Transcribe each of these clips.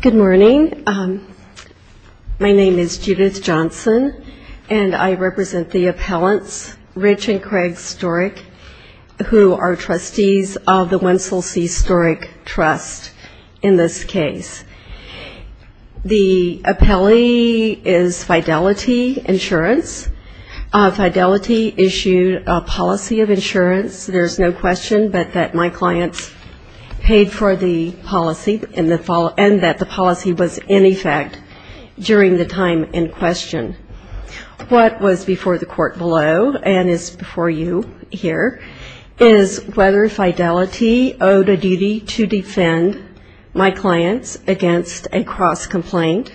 Good morning. My name is Judith Johnson, and I represent the appellants Rich and Craig Storek, who are trustees of the Wenzel C. Storek Trust in this case. The appellee is Fidelity Insurance. Fidelity issued a policy of insurance, there's no question but that my clients paid for the policy and that the policy was in effect during the time in question. What was before the court below and is before you here is whether Fidelity owed a duty to defend my clients against a cross-complaint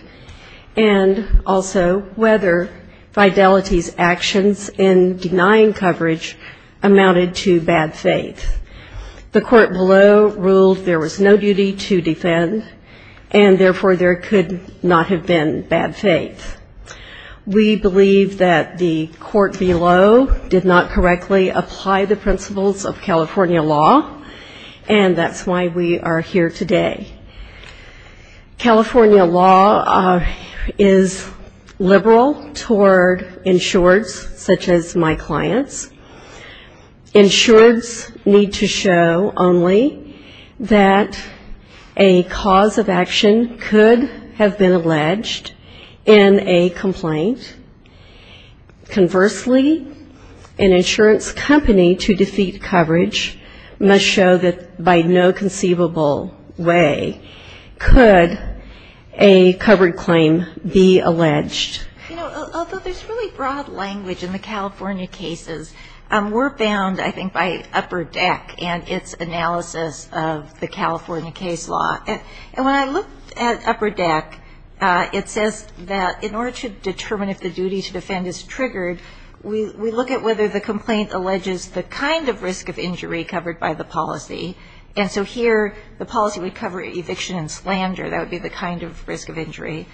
and also whether Fidelity's actions in denying coverage amounted to bad faith. The court below ruled there was no duty to defend, and therefore there could not have been bad faith. We believe that the court below did not correctly apply the principles of California law, and that's why we are here today. California law is liberal toward insureds such as my clients. Insureds need to show only that a cause of action could have been alleged in a complaint. Conversely, an insurance company to defeat coverage must show that by no conceivable way could a covered claim be alleged. You know, although there's really broad language in the California cases, we're bound, I think, by Upper Deck and its analysis of the California case law. And when I looked at Upper Deck, it says that in order to determine if the duty to defend is triggered, we look at whether the complaint alleges the kind of risk of injury covered by the policy. And so here, the policy would cover eviction and slander. That would be the kind of risk of injury.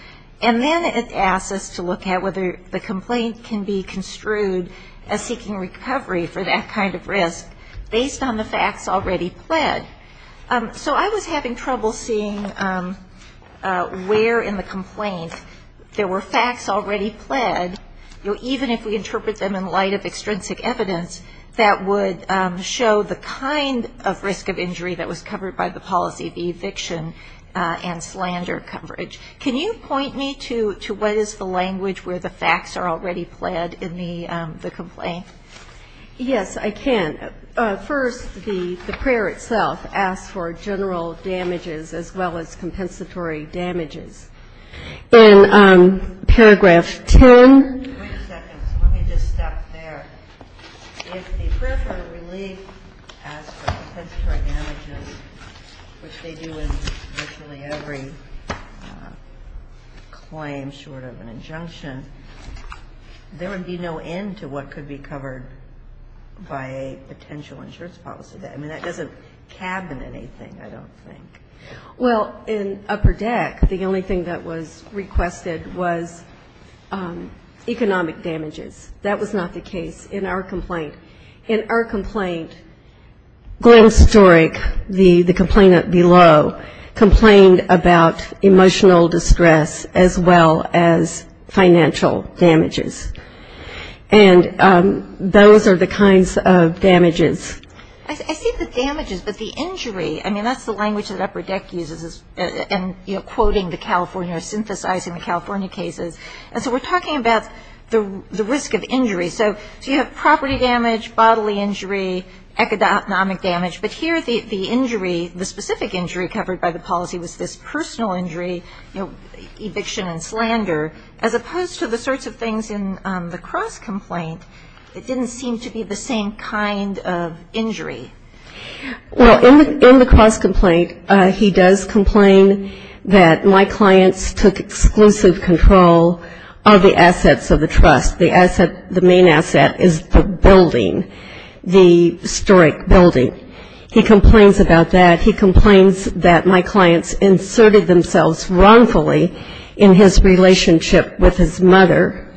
And then it asks us to look at whether the complaint can be construed as seeking recovery for that kind of risk based on the facts already pled. So I was having trouble seeing where in the complaint there were facts already pled, you know, even if we interpret them in light of extrinsic evidence, that would show the kind of risk of injury that was covered by the policy of eviction and slander coverage. Can you point me to what is the language where the facts are already pled in the complaint? Yes, I can. First, the prayer itself asks for general damages as well as compensatory damages. In paragraph 10. Wait a second. Let me just stop there. If the prayer for relief asks for compensatory damages, which they do in virtually every claim short of an injunction, there would be no end to what could be covered by a potential insurance policy. I mean, that doesn't cabin anything, I don't think. Well, in Upper Deck, the only thing that was requested was economic damages. That was not the case in our complaint. In our complaint, Glenn Storick, the complainant below, complained about emotional distress as well as financial distress. And those are the kinds of damages. I see the damages, but the injury, I mean, that's the language that Upper Deck uses in quoting the California or synthesizing the California cases. And so we're talking about the risk of injury. So you have property damage, bodily injury, economic damage, but here the injury, the specific injury covered by the policy was this personal injury, eviction and slander, as opposed to the sorts of things in the cross-complaint that didn't seem to be the same kind of injury. Well, in the cross-complaint, he does complain that my clients took exclusive control of the assets of the trust. The main asset is the building, the Storick building. He complains about that. He complains that my clients inserted themselves wrongfully in his relationship with his mother,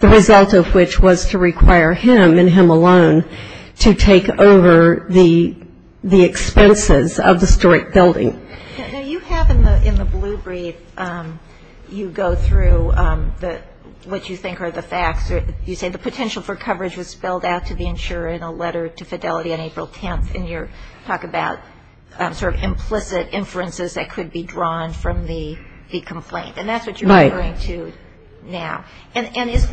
the result of which was to require him and him alone to take over the expenses of the Storick building. Now, you have in the blue brief, you go through what you think are the facts. You say the potential for coverage was spelled out to the insurer in a letter to Fidelity on April 10th, and you talk about sort of implicit inferences that could be drawn from the complaint. And that's what you're referring to now. And is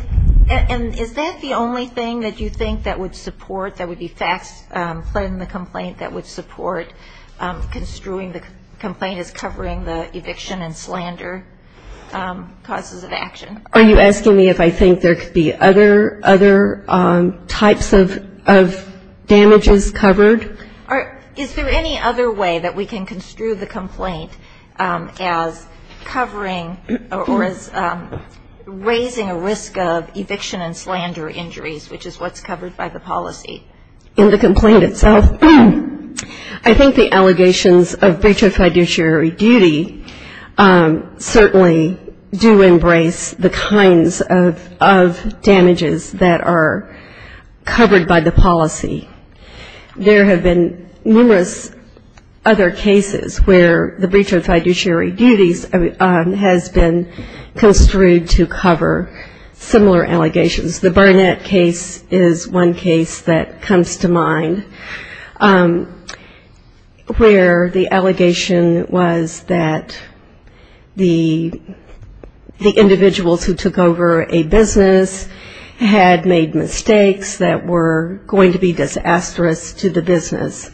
that the only thing that you think that would support, that would be facts in the complaint that would support construing the complaint as covering the eviction and slander causes of action? Are you asking me if I think there could be other types of damages covered? Is there any other way that we can construe the complaint as covering or as raising a risk of eviction and slander injuries, which is what's covered by the policy? In the complaint itself, I think the allegations of breach of fiduciary duty certainly do embrace the kinds of damages that are covered by the policy. There have been numerous other cases where the breach of fiduciary duties has been construed to cover similar allegations. The one that comes to mind where the allegation was that the individuals who took over a business had made mistakes that were going to be disastrous to the business,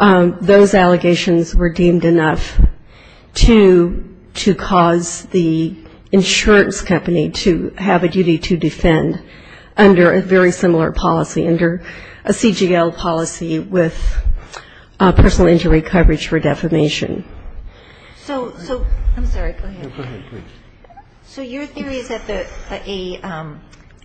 those allegations were deemed enough to cause the insurance company to have a duty to defend under a very different policy, a CGL policy with personal injury coverage for defamation. So your theory is that an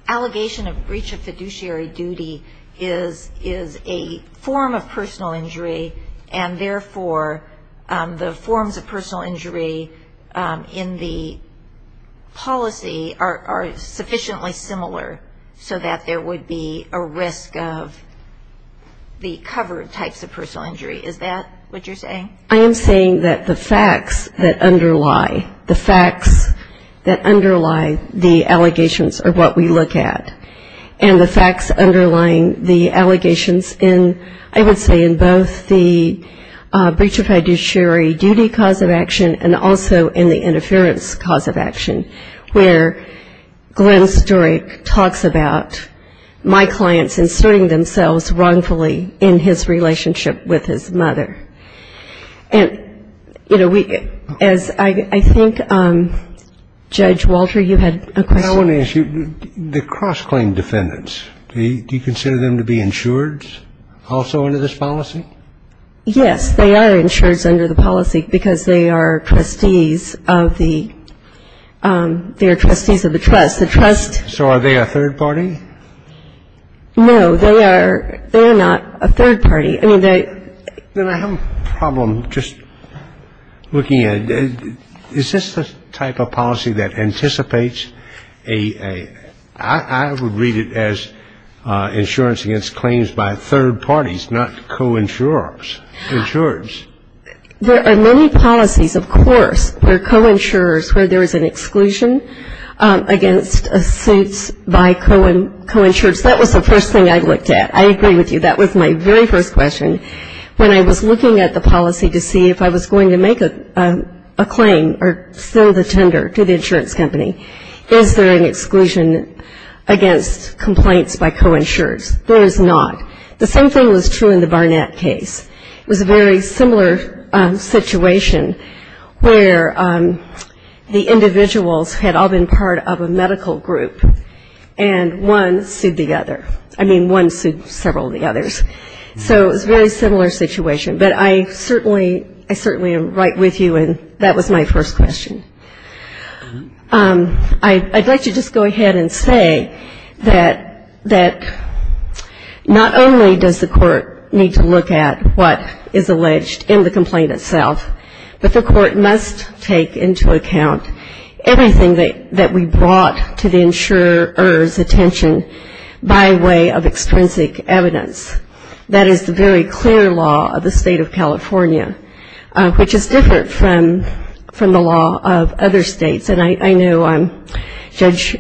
allegation of breach of fiduciary duty is a form of personal injury, and therefore the forms of personal injury in the case are not covered by the policy? I am saying that the facts that underlie the allegations are what we look at. And the facts underlying the allegations in, I would say, in both the breach of fiduciary duty cause of action and also in the interference cause of action, where Glenn Sturek talks about my clients inserting themselves wrongfully in his relationship with his mother. And, you know, as I think, Judge Walter, you had a question? I want to ask you, the cross-claim defendants, do you consider them to be insured also under this policy? Yes, they are insured under the policy because they are trustees of the trust. So are they a third party? No, they are not a third party. Then I have a problem just looking at it. Is this the type of policy that anticipates a ‑‑ I would read it as insurance against claims by third parties, not co‑insurers, insurers. There are many policies, of course, where co‑insurers, where there is an exclusion against suits by co‑insurers. That was the first thing I looked at. I agree with you. That was my very first question. When I was looking at the policy to see if I was going to make a claim or send a tender to the insurance company, is there an exclusion against complaints by co‑insurers? There is not. The same thing was true in the Barnett case. It was a very similar situation where the individuals had all been part of a medical group, and one sued the other. I mean, one sued several of the others. So it was a very similar situation, but I certainly am right with you, and that was my first question. I'd like to just go ahead and say that not only does the court need to look at what is alleged in the complaint itself, but the insurer's attention by way of extrinsic evidence. That is the very clear law of the state of California, which is different from the law of other states. And I know Judge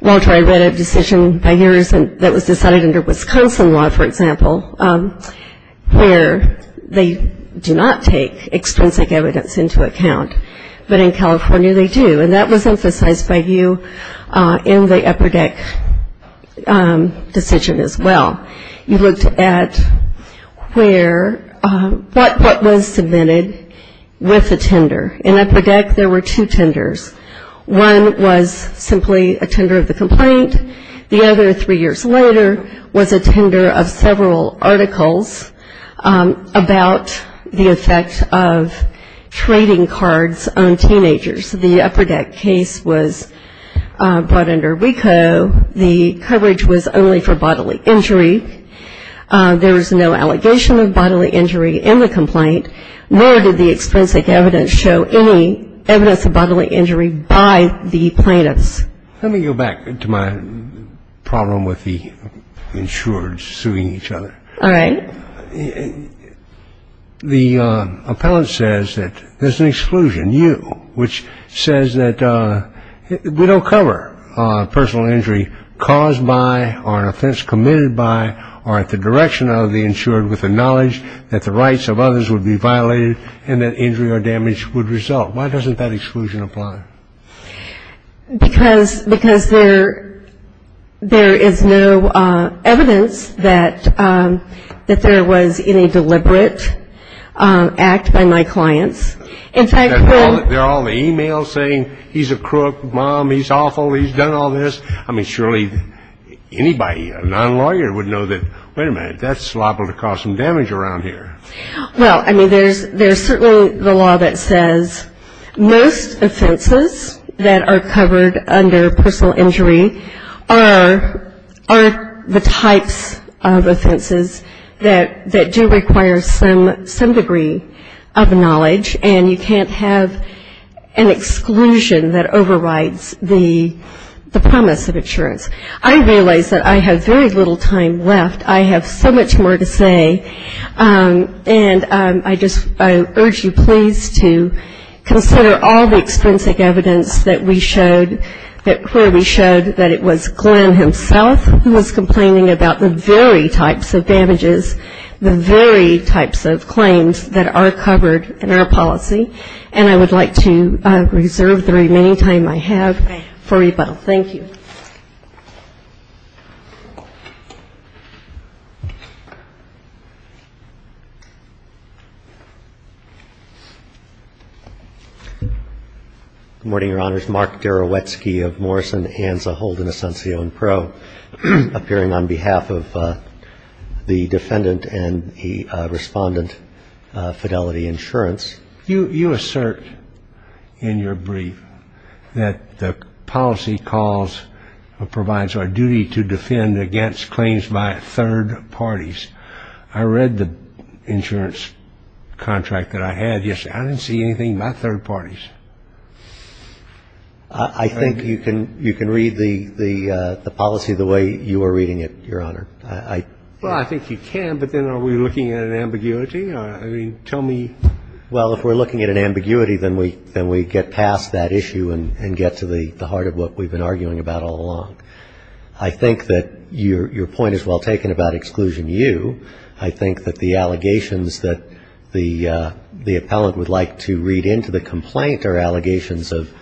Walter, I read a decision by yours that was decided under Wisconsin law, for example, where they do not take into account what was submitted by you in the Upper Deck decision as well. You looked at where, what was submitted with a tender. In Upper Deck, there were two tenders. One was simply a tender of the complaint. The other, three years later, was a tender of several articles about the effect of trading cards on teenagers. The Upper Deck case was brought under WECO. The coverage was only for bodily injury. There was no allegation of bodily injury in the complaint, nor did the extrinsic evidence show any evidence of bodily injury by the plaintiffs. Let me go back to my problem with the insured suing each other. All right. The appellant says that there's an exclusion, you, which says that we don't cover personal injury caused by, or an offense committed by, or at the direction of the insured with the knowledge that the rights of others would be violated and that injury or damage would result. Why doesn't that exclusion apply? Because there is no evidence that there was any deliberate act by my clients. In fact, when they're all in the e-mail saying he's a crook, mom, he's awful, he's done all this. I mean, surely anybody, a non-lawyer would know that, wait a minute, that's liable to cause some damage around here. Well, I mean, there's certainly the law that says most offenses that are covered under personal injury are the types of offenses that do require some degree of knowledge, and you can't have an exclusion that overrides the promise of insurance. I realize that I have very little time left. I have so much more to say. And I just urge you, please, to consider all the extrinsic evidence that we showed, where we showed that it was Glenn himself who was complaining about the very types of damages, the very types of claims that are covered in our policy. And I would like to reserve the remaining time I have for rebuttal. Thank you. Good morning, Your Honors. Mark Derowetsky of Morrison & Hansel Holden Asuncion Pro, appearing on behalf of the defendant and the respondent, Fidelity Insurance. You assert in your brief that the policy calls or provides our duty to defend against claims by third parties. I read the insurance contract that I had yesterday. I didn't see anything about third parties. I think you can read the policy the way you are reading it, Your Honor. Well, I think you can, but then are we looking at an ambiguity? I mean, tell me. Well, if we're looking at an ambiguity, then we get past that issue and get to the heart of what we've been arguing about all along. I think that your point is well taken about Exclusion U. I think that the allegations that the appellant would like to read into the complaint are allegations of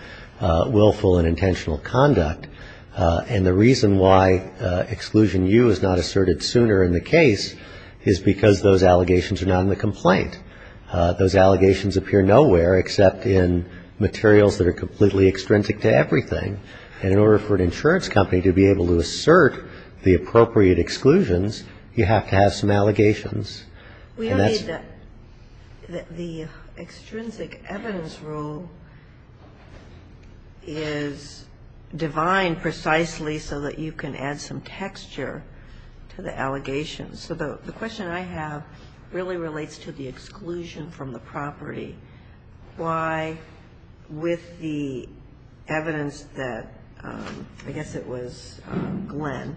willful and intentional conduct. And the reason why Exclusion U is not asserted sooner in the case is because those allegations are not in the complaint. Those allegations appear nowhere except in materials that are completely extrinsic to everything. And in order for an insurance company to be able to assert the appropriate exclusions, you have to have some allegations. We believe that the extrinsic evidence rule is divine precisely so that you can add some texture to the allegations. So the question I have really relates to the exclusion from the property. Why, with the evidence that, I guess it was Glenn,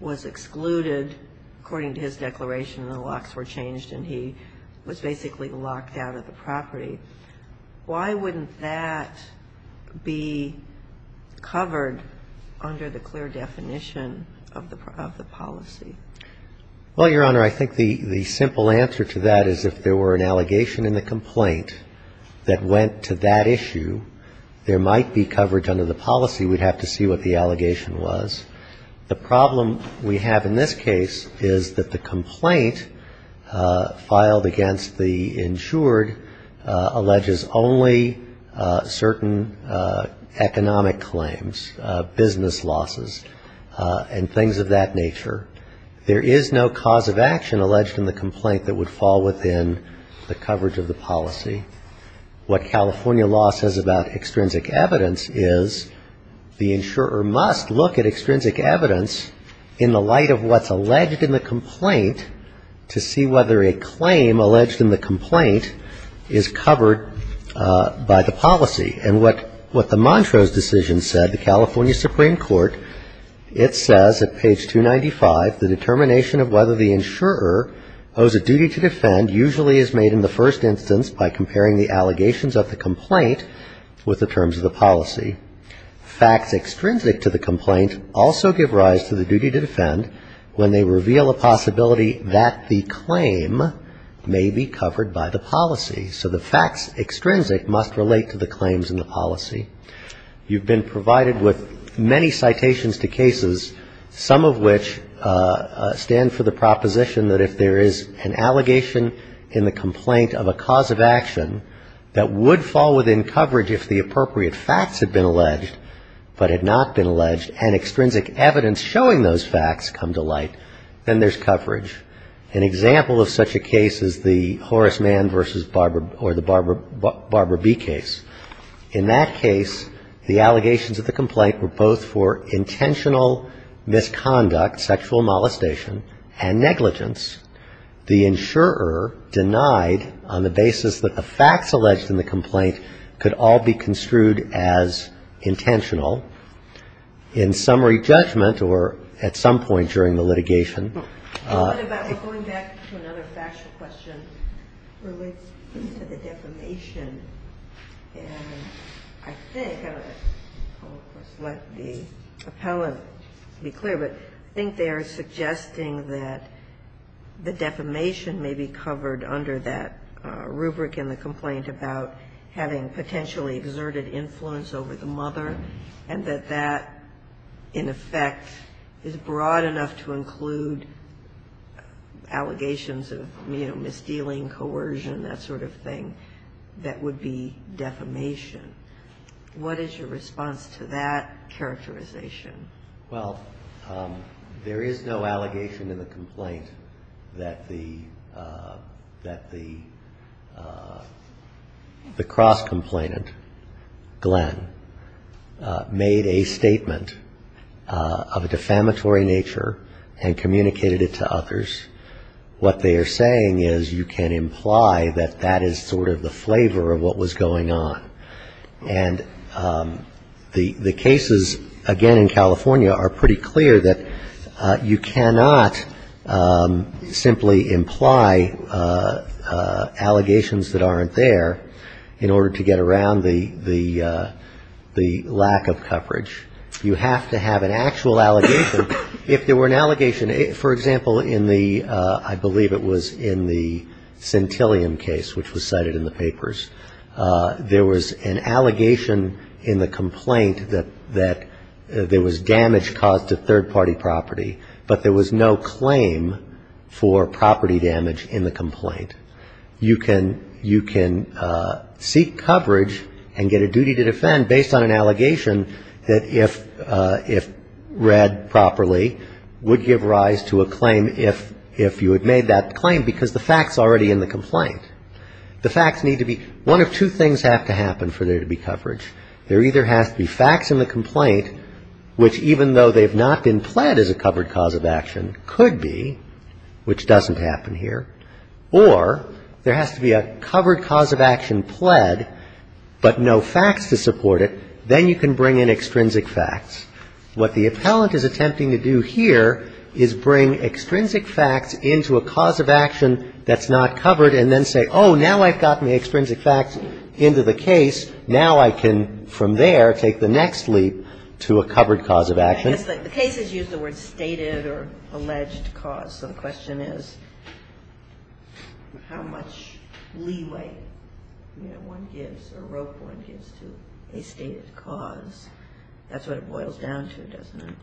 was excluded according to his declaration and the locks were changed and he was basically locked out of the property, why wouldn't that be covered under the clear definition of the policy? Well, Your Honor, I think the simple answer to that is if there were an allegation in the complaint that went to that issue, there might be coverage under the policy. We'd have to see what the allegation was. The problem we have in this case is that the complaint filed against the insured alleges only certain economic claims, business losses, and things of that nature. There is no cause of action alleged in the complaint that would fall within the coverage of the policy. What California law says about extrinsic evidence is the insurer must look at extrinsic evidence in the light of what's alleged in the complaint to see whether a claim alleged in the complaint is covered by the policy. And what the Montrose decision said, the California Supreme Court, it says at page 295, the determination of whether the insurer owes a duty to defend usually is made in the first instance by comparing the allegations of the complaint with the terms of the policy. Facts extrinsic to the complaint also give rise to the duty to defend when they reveal a possibility that the claim may be covered by the terms of the policy. You've been provided with many citations to cases, some of which stand for the proposition that if there is an allegation in the complaint of a cause of action that would fall within coverage if the appropriate facts had been alleged, but had not been alleged, and extrinsic evidence showing those facts come to light, then there's coverage. An example of such a case is the Horace Mann v. Barbara B. case. In that case, the allegations of the complaint were both for intentional misconduct, sexual molestation, and negligence. The insurer denied on the basis that the facts alleged in the complaint could all be construed as intentional. In summary judgment, or at some point during the litigation... I think, I'll let the appellant be clear, but I think they are suggesting that the defamation may be covered under that rubric in the complaint about having potentially exerted influence over the mother, and that that, in effect, is broad enough to include allegations of, you know, misdealing, coercion, that sort of thing, that would be defamation. What is your response to that characterization? Well, there is no allegation in the complaint that the cross-complainant, Glenn, made a statement of a defamatory nature and communicated it to others. What they are saying is you can imply that that is sort of the flavor of what was going on. And the cases, again, in California are pretty clear that you cannot simply imply allegations that aren't there in order to get around the lack of coverage. You have to have an actual allegation. If there were an allegation, for example, in the, I believe it was in the Centillium case, which was cited in the papers, there was an allegation in the complaint that there was damage caused to third-party property, but there was no claim for property damage in the complaint. You can seek coverage and get a duty to defend based on an allegation that if read properly. Would give rise to a claim if you had made that claim, because the fact is already in the complaint. The facts need to be, one of two things have to happen for there to be coverage. There either has to be facts in the complaint, which even though they have not been pled as a covered cause of action, could be, which doesn't happen here, or there has to be a covered cause of action pled, but no facts to support it. Then you can bring in extrinsic facts. What the appellant is attempting to do here is bring extrinsic facts into a cause of action that's not covered and then say, oh, now I've gotten the extrinsic facts into the case, now I can from there take the next leap to a covered cause of action. The case is used the word stated or alleged cause, so the question is how much leeway one gives or a rope one gives to a stated cause of action. That's what it boils down to, doesn't it?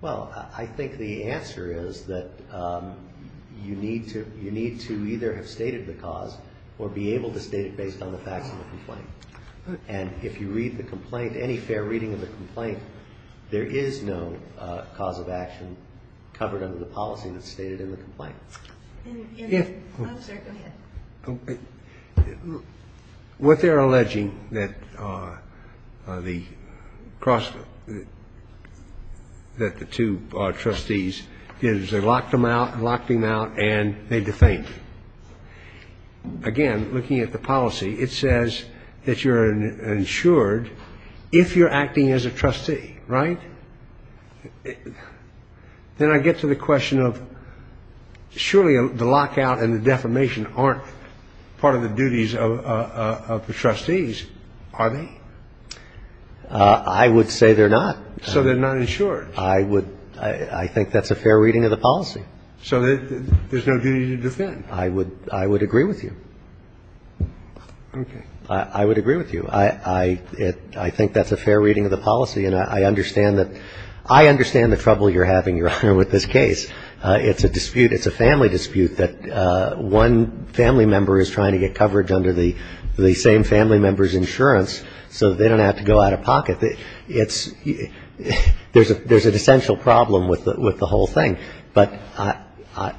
Well, I think the answer is that you need to either have stated the cause or be able to state it based on the facts of the complaint. And if you read the complaint, any fair reading of the complaint, there is no cause of action covered under the policy that's stated in the complaint. What they're alleging that the two trustees did is they locked them out and locked them out and they defamed. Again, looking at the policy, it says that you're insured if you're acting as a trustee, right? Then I get to the question of surely the lockout and the defamation aren't part of the duties of the trustees, are they? I would say they're not. So they're not insured? I think that's a fair reading of the policy. So there's no duty to defend? I would agree with you. I think that's a fair reading of the policy, and I understand the trouble you're having, Your Honor, with this case. It's a dispute, it's a family dispute that one family member is trying to get coverage under the same family member's insurance so they don't have to go out of pocket. There's an essential problem with the whole thing, but,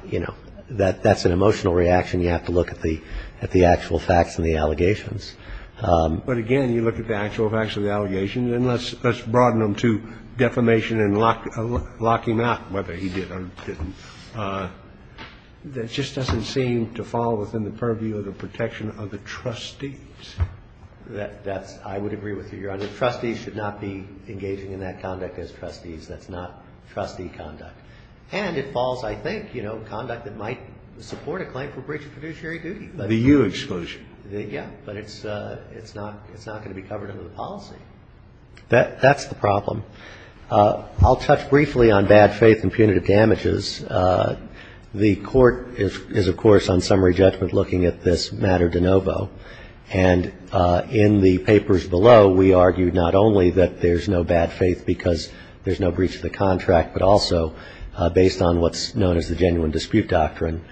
you know, that's an emotional reaction. You have to look at the actual facts and the allegations. But again, you look at the actual facts and the allegations, and let's broaden them to defamation and locking them out, whether he did or didn't. That just doesn't seem to fall within the purview of the protection of the trustees. That's what I would agree with you, Your Honor, trustees should not be engaging in that conduct as trustees, that's not trustee conduct. And it falls, I think, you know, conduct that might support a claim for breach of fiduciary duty. The U-exclusion? Yeah, but it's not going to be covered under the policy. That's the problem. I'll touch briefly on bad faith and punitive damages. The court is, of course, on summary judgment looking at this matter de novo. And in the papers below, we argued not only that there's no bad faith because there's no breach of the contract, but also based on what's known as the genuine dispute doctrine,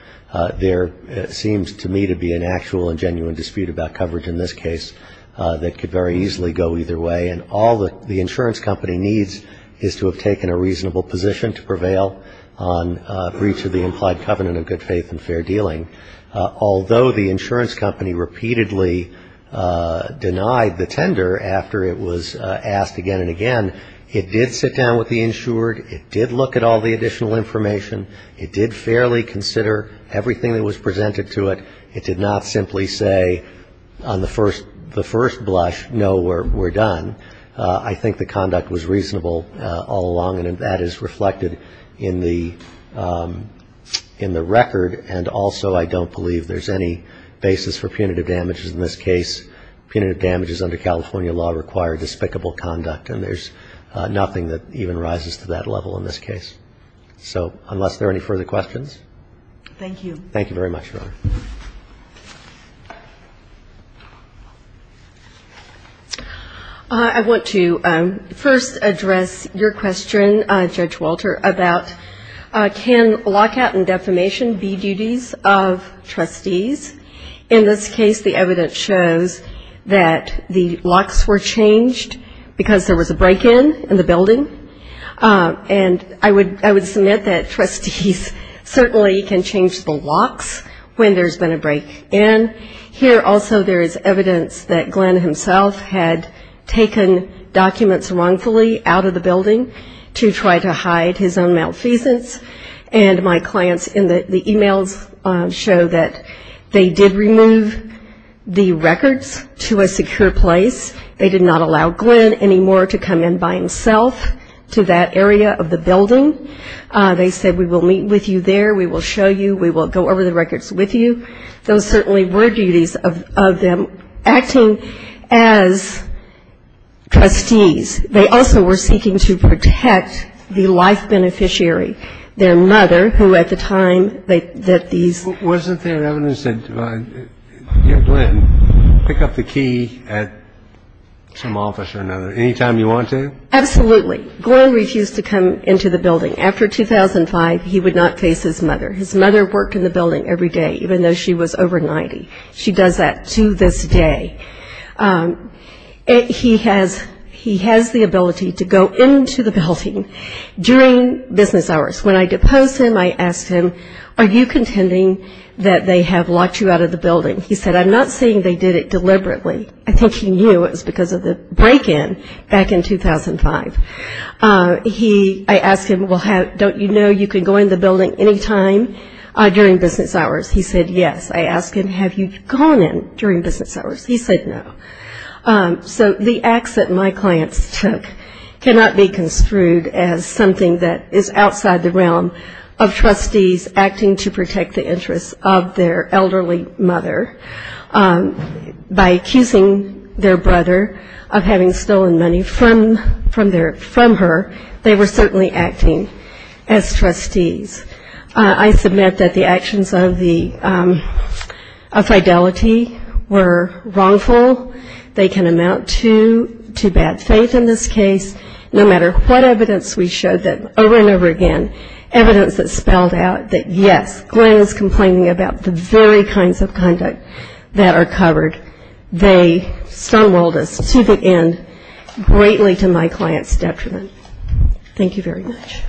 there seems to me to be an actual and genuine dispute about coverage in this case that could very easily go either way, and all the insurance company needs is to have taken a reasonable position to prevail on breach of the implied covenant of good faith and fair dealing. Although the insurance company repeatedly denied the tender after it was asked again and again, it did sit down with the insured, it did look at all the additional information, it did fairly consider everything that was presented to it, it did not simply say on the first blush, no, we're done, I think the conduct was reasonable all along, and that is reflected in the record. And also, I don't believe there's any basis for punitive damages in this case. Punitive damages under California law require despicable conduct, and there's nothing that even rises to that level in this case. So unless there are any further questions. I want to first address your question, Judge Walter, about can lockout and defamation be duties of trustees. In this case, the evidence shows that the locks were changed because there was a break-in in the building, and I would submit that trustees certainly can change the locks when there's been a break-in. Here also there is evidence that Glenn himself had taken documents wrongfully out of the building to try to hide his own malfeasance, and my clients in the e-mails show that they did remove the records to a secure place. They did not allow Glenn anymore to come in by himself to that area of the building. They said, we will meet with you there, we will show you, we will go over the records with you. So there are other duties of them acting as trustees. They also were seeking to protect the life beneficiary, their mother, who at the time that these ---- Wasn't there evidence that Glenn would pick up the key at some office or another any time he wanted to? Absolutely. Glenn refused to come into the building. After 2005, he would not face his mother. His mother worked in the building every day, even though she was over 90. She does that to this day. He has the ability to go into the building during business hours. When I deposed him, I asked him, are you contending that they have locked you out of the building? He said, I'm not saying they did it deliberately, I think he knew it was because of the break-in back in 2005. I asked him, don't you know you can go in the building any time during business hours? He said, yes. I asked him, have you gone in during business hours? He said, no. So the acts that my clients took cannot be construed as something that is outside the realm of trustees acting to protect the interests of their elderly mother. By accusing their brother of having stolen money from her, they were certainly acting as trustees. I submit that the actions of fidelity were wrong. They can amount to bad faith in this case. No matter what evidence we showed that over and over again, evidence that spelled out that yes, Glenn is complaining about the very kinds of conduct that are covered, they stumbled us to the end, greatly to my client's detriment. Thank you very much.